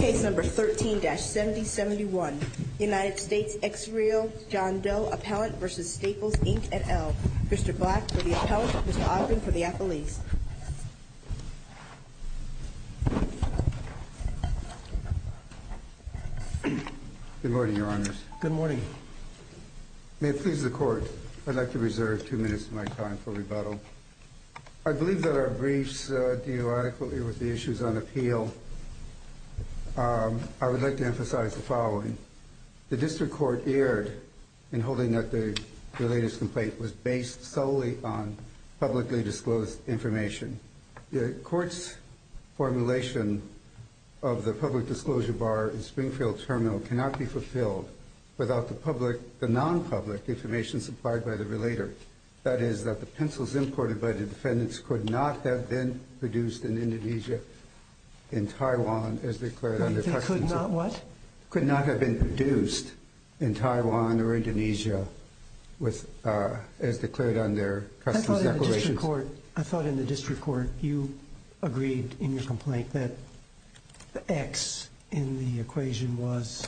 et al. Mr. Black for the appellant, Mr. Ogden for the appellees. Good morning, Your Honors. Good morning. May it please the Court, I'd like to reserve two minutes of my time for rebuttal. I believe that our briefs deal adequately with the issues on appeal. I would like to emphasize the following. The District Court erred in holding that the relator's complaint was based solely on publicly disclosed information. The Court's formulation of the public disclosure bar in Springfield Terminal cannot be fulfilled without the non-public information supplied by the relator. That is, that the pencils imported by the defendants could not have been produced in Indonesia, in Taiwan, as declared under Customs. They could not what? Could not have been produced in Taiwan or Indonesia as declared under Customs Declarations. I thought in the District Court you agreed in your complaint that the X in the equation was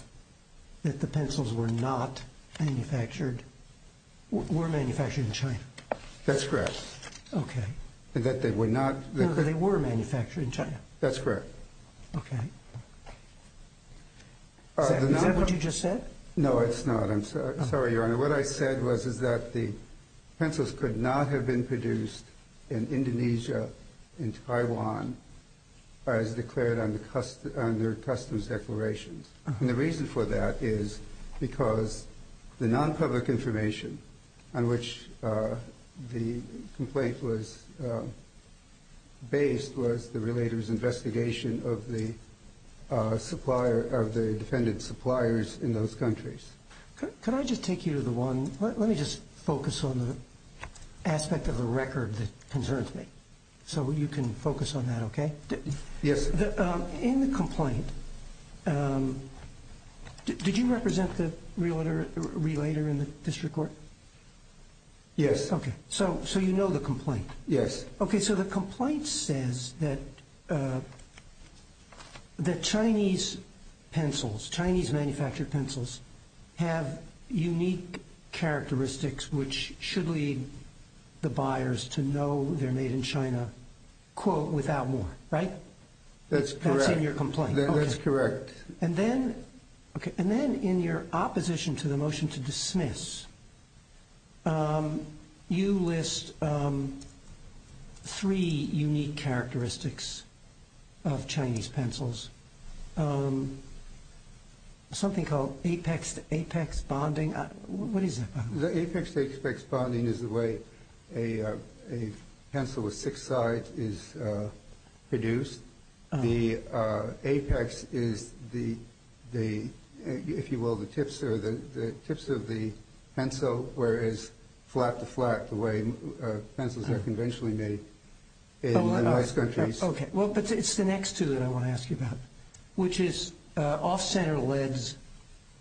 that the pencils were not manufactured, were manufactured in China. Okay. That they were not. No, that they were manufactured in China. That's correct. Okay. Is that what you just said? No, it's not. I'm sorry, Your Honor. What I said was is that the pencils could not have been produced in Indonesia, in Taiwan, as declared under Customs Declarations. And the reason for that is because the non-public information on which the complaint was based was the relator's investigation of the supplier, of the defendant's suppliers in those countries. Can I just take you to the one? Let me just focus on the aspect of the record that concerns me so you can focus on that, okay? Yes. In the complaint, did you represent the relator in the District Court? Yes. Okay. So you know the complaint? Yes. Okay. So the complaint says that the Chinese pencils, Chinese manufactured pencils, have unique characteristics which should lead the buyers to know they're made in China, quote, without more, right? That's correct. That's in your complaint. That's correct. And then, okay, and then in your opposition to the motion to dismiss, you list three unique characteristics of Chinese pencils, something called apex-to-apex bonding. What is that? The apex-to-apex bonding is the way a pencil with six sides is produced. The apex is the, if you will, the tips of the pencil, whereas flat-to-flat, the way pencils are conventionally made in most countries. Okay. Well, but it's the next two that I want to ask you about, which is off-center leads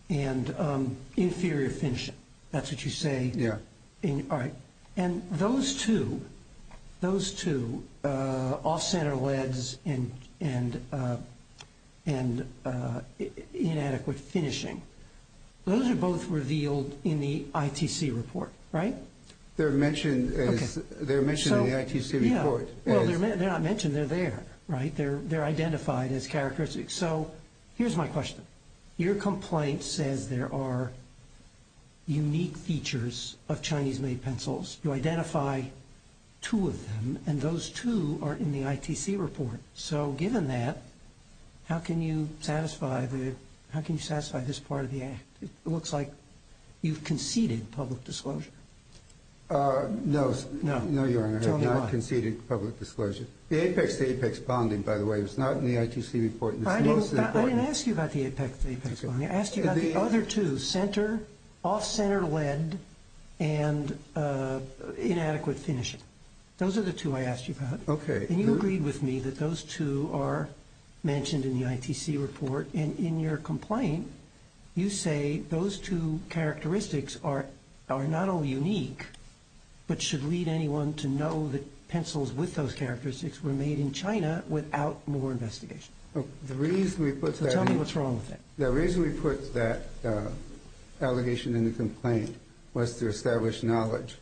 and inferior finishing. That's what you say? Yeah. All right. And those two, those two, off-center leads and inadequate finishing, those are both revealed in the ITC report, right? They're mentioned in the ITC report. Well, they're not mentioned, they're there, right? They're identified as characteristics. So here's my question. Your complaint says there are unique features of Chinese-made pencils. You identify two of them, and those two are in the ITC report. So given that, how can you satisfy this part of the act? It looks like you've conceded public disclosure. No, Your Honor, I have not conceded public disclosure. The apex-to-apex bonding, by the way, was not in the ITC report. I didn't ask you about the apex-to-apex bonding. I asked you about the other two, center, off-center lead, and inadequate finishing. Those are the two I asked you about. Okay. And you agreed with me that those two are mentioned in the ITC report. And in your complaint, you say those two characteristics are not only unique, but should lead anyone to know that pencils with those characteristics were made in China without more investigation. Tell me what's wrong with that. The reason we put that allegation in the complaint was to establish knowledge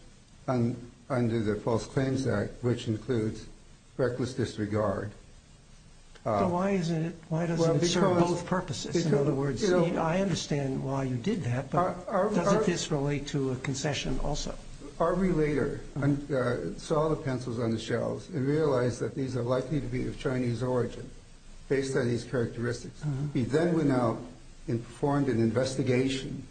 under the False Claims Act, which includes reckless disregard. So why doesn't it serve both purposes? I understand why you did that, but doesn't this relate to a concession also? Harvey later saw the pencils on the shelves and realized that these are likely to be of Chinese origin based on these characteristics. He then went out and performed an investigation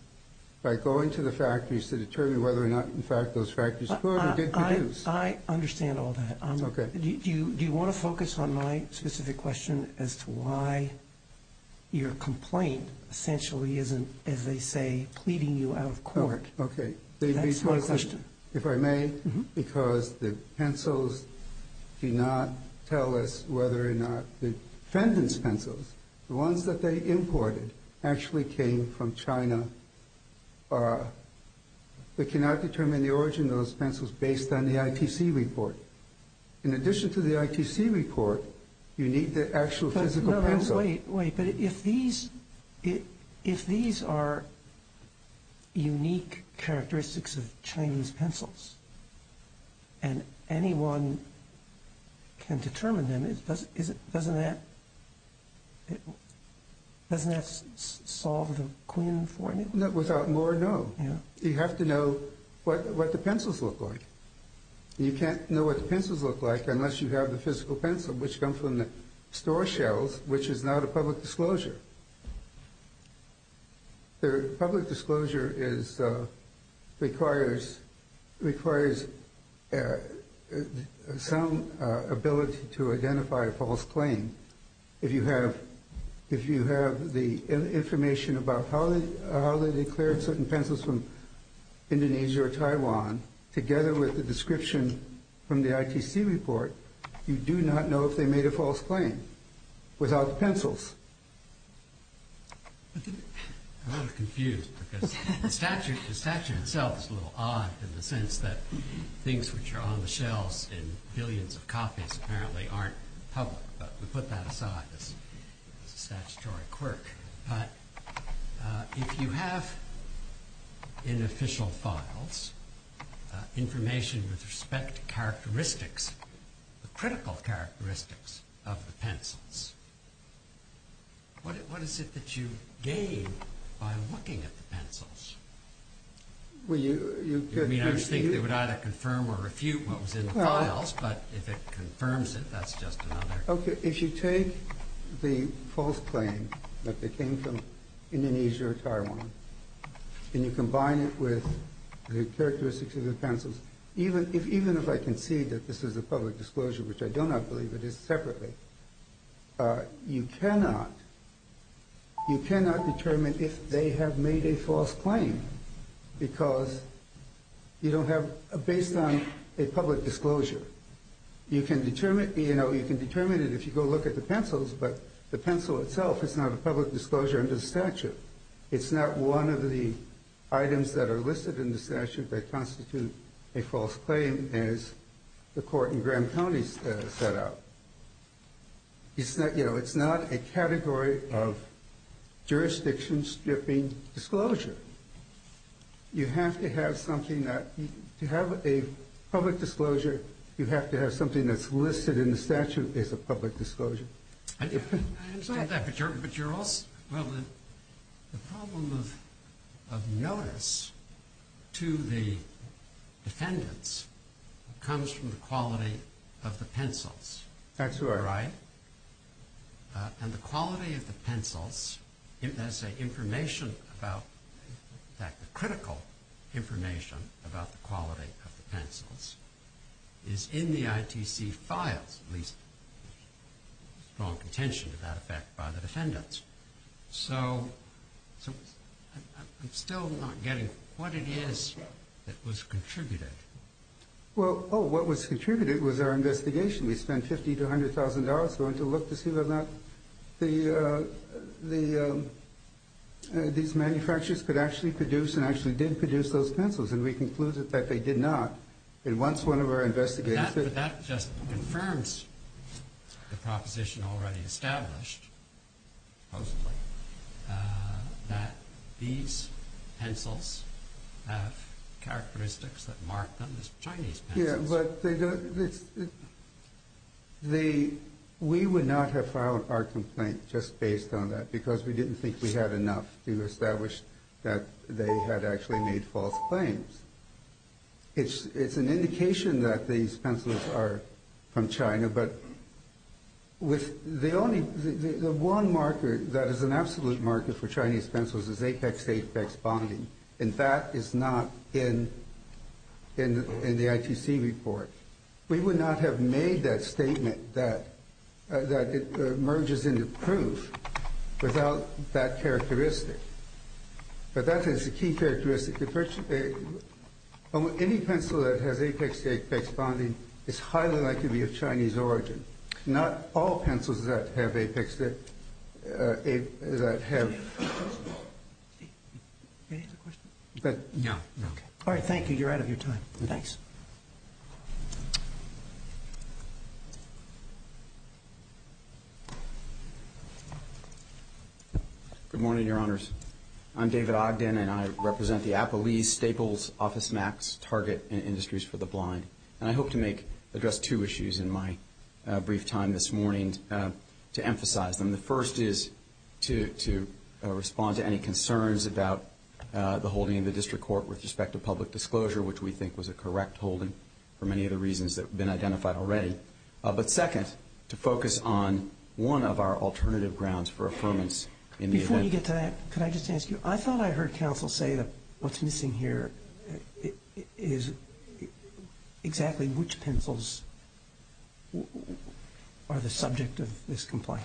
by going to the factories to determine whether or not, in fact, those factories put or did produce. I understand all that. Do you want to focus on my specific question as to why your complaint essentially isn't, as they say, pleading you out of court? Okay. That's my question. If I may, because the pencils do not tell us whether or not the defendant's pencils, the ones that they imported, actually came from China. We cannot determine the origin of those pencils based on the ITC report. In addition to the ITC report, you need the actual physical pencils. Wait, but if these are unique characteristics of Chinese pencils and anyone can determine them, doesn't that solve the Quinn formula? Without more, no. You have to know what the pencils look like. You can't know what the pencils look like unless you have the physical pencil, which comes from the store shelves, which is not a public disclosure. Public disclosure requires some ability to identify a false claim. If you have the information about how they declared certain pencils from Indonesia or Taiwan, together with the description from the ITC report, you do not know if they made a false claim without the pencils. I'm a little confused because the statute itself is a little odd in the sense that things which are on the shelves in billions of copies apparently aren't public, but we put that work. But if you have in official files information with respect to characteristics, the critical characteristics of the pencils, what is it that you gain by looking at the pencils? I mean, I just think they would either confirm or refute what was in the files, but if it confirms it, that's just another... Okay, if you take the false claim that they came from Indonesia or Taiwan and you combine it with the characteristics of the pencils, even if I can see that this is a public disclosure, which I do not believe it is separately, you cannot determine if they have made a false claim because you don't have, based on a public disclosure, you can determine it if you go look at the pencils, but the pencil itself is not a public disclosure under the statute. It's not one of the items that are listed in the statute that constitute a false claim as the court in Graham County set out. It's not a category of jurisdiction stripping disclosure. You have to have something that... To have a public disclosure, you have to have something that's listed in the statute as a public disclosure. I understand that, but you're also... Well, the problem of notice to the defendants comes from the quality of the pencils. That's right. Right? And the quality of the pencils, as an information about that critical information about the quality of the pencils, is in the ITC files, at least strong contention to that effect by the defendants. So I'm still not getting what it is that was contributed. Well, oh, what was contributed was our investigation. We spent $50,000 to $100,000 going to look to see whether or not these manufacturers could actually produce those pencils. And we concluded that they did not. And once one of our investigators... That just confirms the proposition already established, supposedly, that these pencils have characteristics that mark them as Chinese pencils. Yeah, but we would not have filed our complaint just based on that because we didn't think we had enough to establish that they had actually made false claims. It's an indication that these pencils are from China, but with the only... The one marker that is an absolute marker for Chinese pencils is apex-apex bonding, and that is not in the ITC report. We would not have made that statement, that it merges into proof, without that characteristic. But that is a key characteristic. Any pencil that has apex-apex bonding is highly likely to be of Chinese origin. Not all pencils that have apex... All right, thank you. You're out of your time. Thanks. Good morning, Your Honors. I'm David Ogden, and I represent the Appalese, Staples, Office Max, Target, and Industries for the Blind. And I hope to address two issues in my brief time this morning to emphasize them. The first is to respond to any concerns about the holding of the district court with respect to public disclosure, which we think was a correct holding for many of the But second, to focus on one of our alternative grounds for affirmance in the event... Before you get to that, could I just ask you, I thought I heard counsel say that what's missing here is exactly which pencils are the subject of this complaint.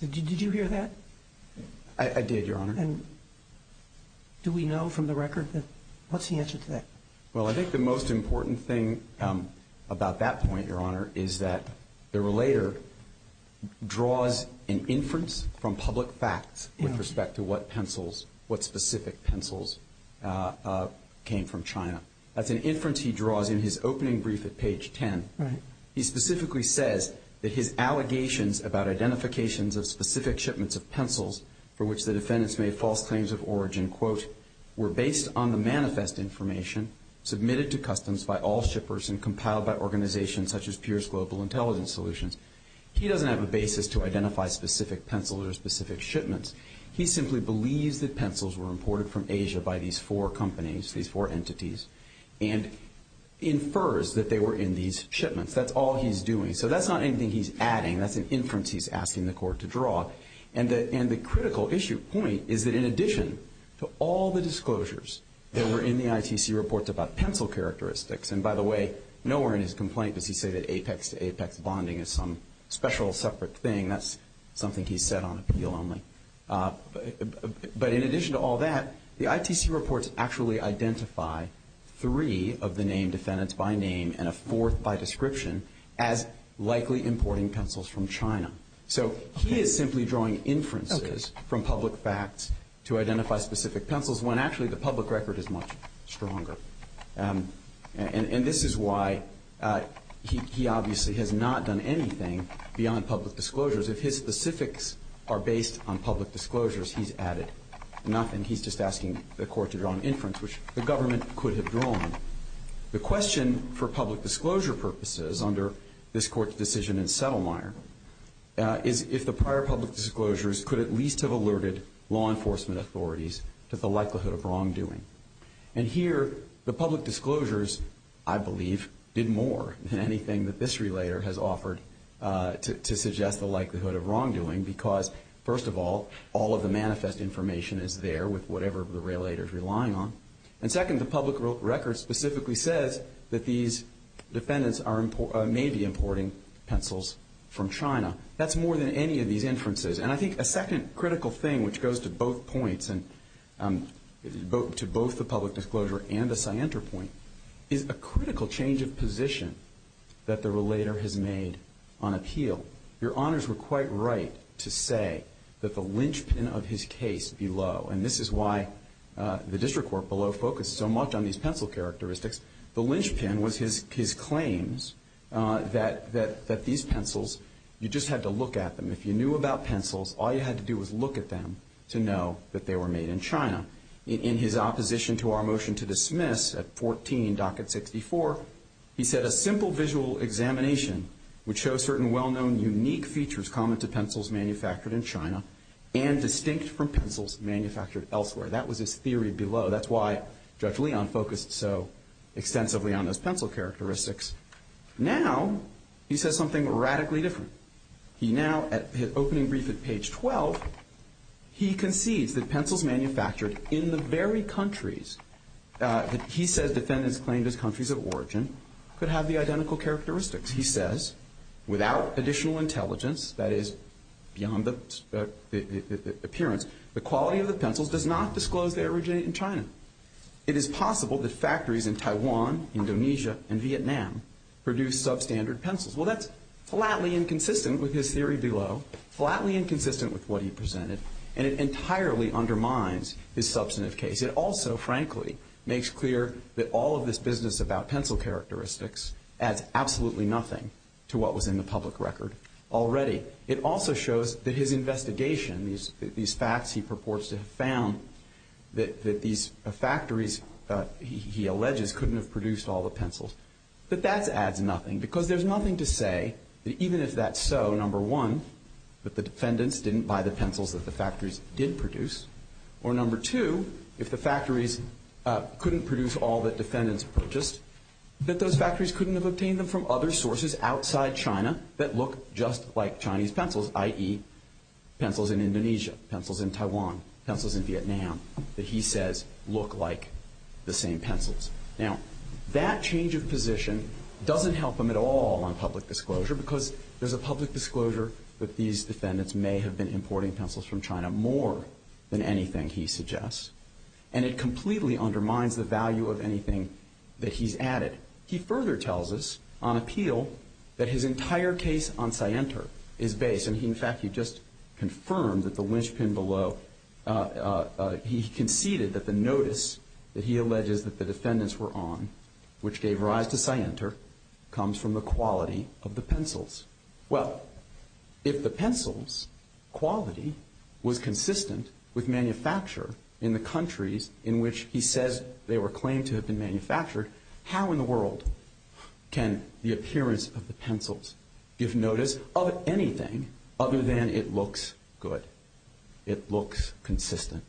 Did you hear that? I did, Your Honor. And do we know from the record that... What's the answer to that? Well, I think the most important thing about that point, Your Honor, is that the relator draws an inference from public facts with respect to what pencils, what specific pencils came from China. That's an inference he draws in his opening brief at page 10. He specifically says that his allegations about identifications of specific shipments of pencils for which the defendants made false claims of origin, were based on the manifest information submitted to customs by all shippers and compiled by organizations such as Pierce Global Intelligence Solutions. He doesn't have a basis to identify specific pencils or specific shipments. He simply believes that pencils were imported from Asia by these four companies, these four entities, and infers that they were in these shipments. That's all he's doing. So that's not anything he's adding. That's an inference he's asking the court to draw. And the critical issue point is that in addition to all the disclosures that were in the ITC reports about pencil characteristics, and by the way, nowhere in his complaint does he say that apex to apex bonding is some special separate thing. That's something he said on appeal only. But in addition to all that, the ITC reports actually identify three of the name defendants by name and a fourth by description as likely importing pencils from China. So he is simply drawing inferences from public facts to identify specific pencils when actually the public record is much stronger. And this is why he obviously has not done anything beyond public disclosures. If his specifics are based on public disclosures, he's added nothing. He's just asking the court to draw an inference, which the government could have drawn. The question for public disclosure purposes under this court's decision in Settlemire is if the prior public disclosures could at least have alerted law enforcement authorities to the likelihood of wrongdoing. And here, the public disclosures, I believe, did more than anything that this relator has offered to suggest the likelihood of wrongdoing because, first of all, all of the manifest information is there with whatever the relator is relying on. And second, the public record specifically says that these defendants may be importing pencils from China. That's more than any of these inferences. And I think a second critical thing, which goes to both points, to both the public disclosure and the scienter point, is a critical change of position that the relator has made on appeal. Your honors were quite right to say that the linchpin of his case below, and this is why the district court below focused so much on these pencil characteristics, the linchpin was his claims that these pencils, you just had to look at them. If you knew about pencils, all you had to do was look at them to know that they were made in China. In his opposition to our motion to dismiss at 14, docket 64, he said a simple visual examination would show certain well-known unique features common to pencils manufactured in China and distinct from pencils manufactured elsewhere. That was his theory below. That's why Judge Leon focused so extensively on those pencil characteristics. Now he says something radically different. He now, at opening brief at page 12, he concedes that pencils manufactured in the very countries that he says defendants claimed as countries of origin could have the identical characteristics. He says, without additional intelligence, that is, beyond the appearance, the quality of the pencils does not disclose they originate in China. It is possible that factories in Taiwan, Indonesia, and Vietnam produce substandard pencils. Well, that's flatly inconsistent with his theory below, flatly inconsistent with what he presented, and it entirely undermines his substantive case. It also, frankly, makes clear that all of this business about pencil characteristics adds absolutely nothing to what was in the public record already. It also shows that his investigation, these facts he purports to have found, that these factories, he alleges, couldn't have produced all the pencils. But that adds nothing because there's nothing to say that even if that's so, number one, that the defendants didn't buy the pencils that the factories did produce, or number two, if the factories couldn't produce all that defendants purchased, that those factories couldn't have obtained them from other sources outside China that look just like Chinese pencils, i.e., pencils in Indonesia, pencils in Taiwan, pencils in Vietnam, that he says look like the same pencils. Now, that change of position doesn't help him at all on public disclosure because there's a public disclosure that these defendants may have been importing pencils from than anything he suggests, and it completely undermines the value of anything that he's added. He further tells us on appeal that his entire case on Sienter is based, and in fact, he just confirmed that the linchpin below, he conceded that the notice that he alleges that the defendants were on, which gave rise to Sienter, comes from the quality of the pencils. Well, if the pencils quality was consistent with manufacture in the countries in which he says they were claimed to have been manufactured, how in the world can the appearance of the pencils give notice of anything other than it looks good, it looks consistent?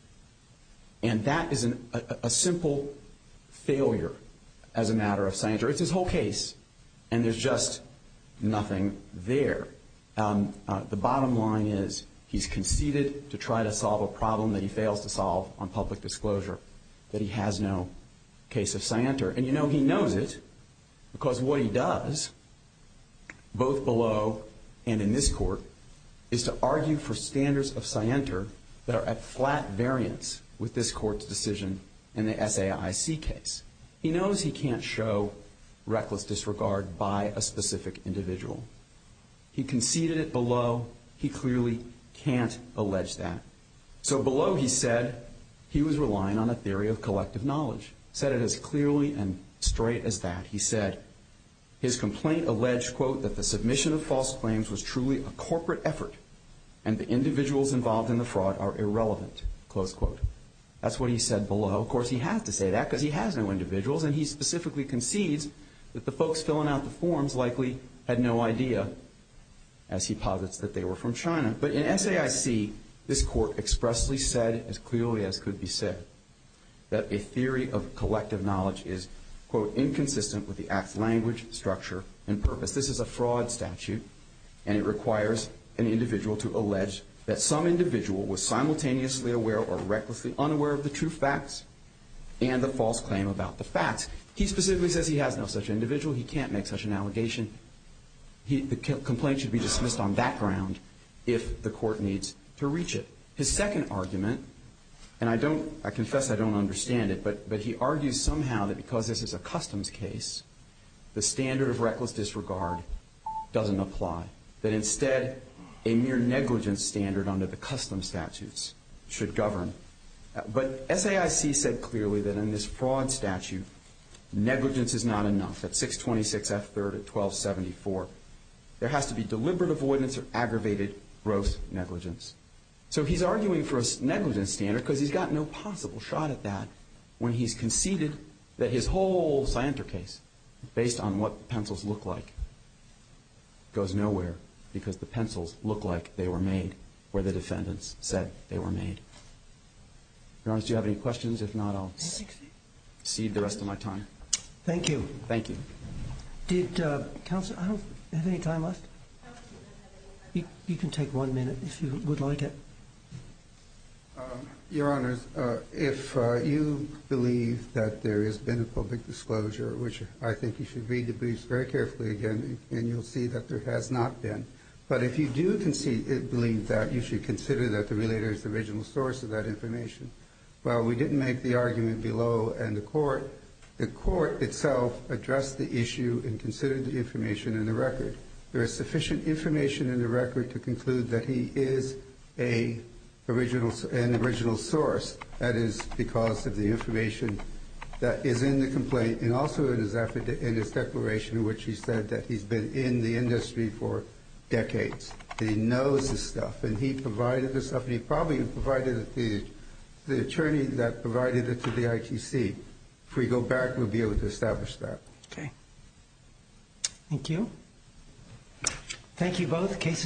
And that is a simple failure as a matter of Sienter. It's his whole case, and there's just nothing there. The bottom line is he's conceded to try to solve a problem that he fails to solve on public disclosure, that he has no case of Sienter. And you know he knows it because what he does, both below and in this court, is to argue for standards of Sienter that are at flat variance with this court's decision in the SAIC case. He knows he can't show reckless disregard by a specific individual. He conceded it below. He clearly can't allege that. So below he said he was relying on a theory of collective knowledge, said it as clearly and straight as that. He said his complaint alleged, quote, that the submission of false claims was truly a corporate effort and the individuals involved in the fraud are irrelevant, close quote. That's what he said below. Of course, he had to say that because he has no individuals, and he specifically concedes that the folks filling out the forms likely had no idea, as he posits, that they were from China. But in SAIC, this court expressly said, as clearly as could be said, that a theory of collective knowledge is, quote, inconsistent with the act's language, structure, and purpose. This is a fraud statute, and it requires an individual to recklessly unaware of the true facts and the false claim about the facts. He specifically says he has no such individual. He can't make such an allegation. The complaint should be dismissed on that ground if the court needs to reach it. His second argument, and I confess I don't understand it, but he argues somehow that because this is a customs case, the standard of reckless disregard doesn't apply. That instead, a mere negligence standard under the custom statutes should govern. But SAIC said clearly that in this fraud statute, negligence is not enough. At 626 F3rd at 1274, there has to be deliberate avoidance or aggravated gross negligence. So he's arguing for a negligence standard because he's got no possible shot at that when he's conceded that his whole Scienter case, based on what the pencils look like, goes nowhere because the pencils look like they were made where the defendants said they were made. Your Honor, do you have any questions? If not, I'll cede the rest of my time. Thank you. Thank you. Did counsel have any time left? You can take one minute if you would like it. Your Honor, if you believe that there has been a public disclosure, which I think you should read the briefs very carefully again, and you'll see that there has not been. But if you do believe that, you should consider that the relator is the original source of that information. While we didn't make the argument below and the court, the court itself addressed the issue and considered the information in the record. There is sufficient information in the record to conclude that he is an original source. That is because of the information that is in the complaint and also in his declaration in which he said that he's been in the industry for decades. He knows this stuff and he provided this stuff. He probably provided it to the attorney that provided it to the ITC. If we go back, we'll be able to establish that. Okay. Thank you. Thank you both. Case is closed.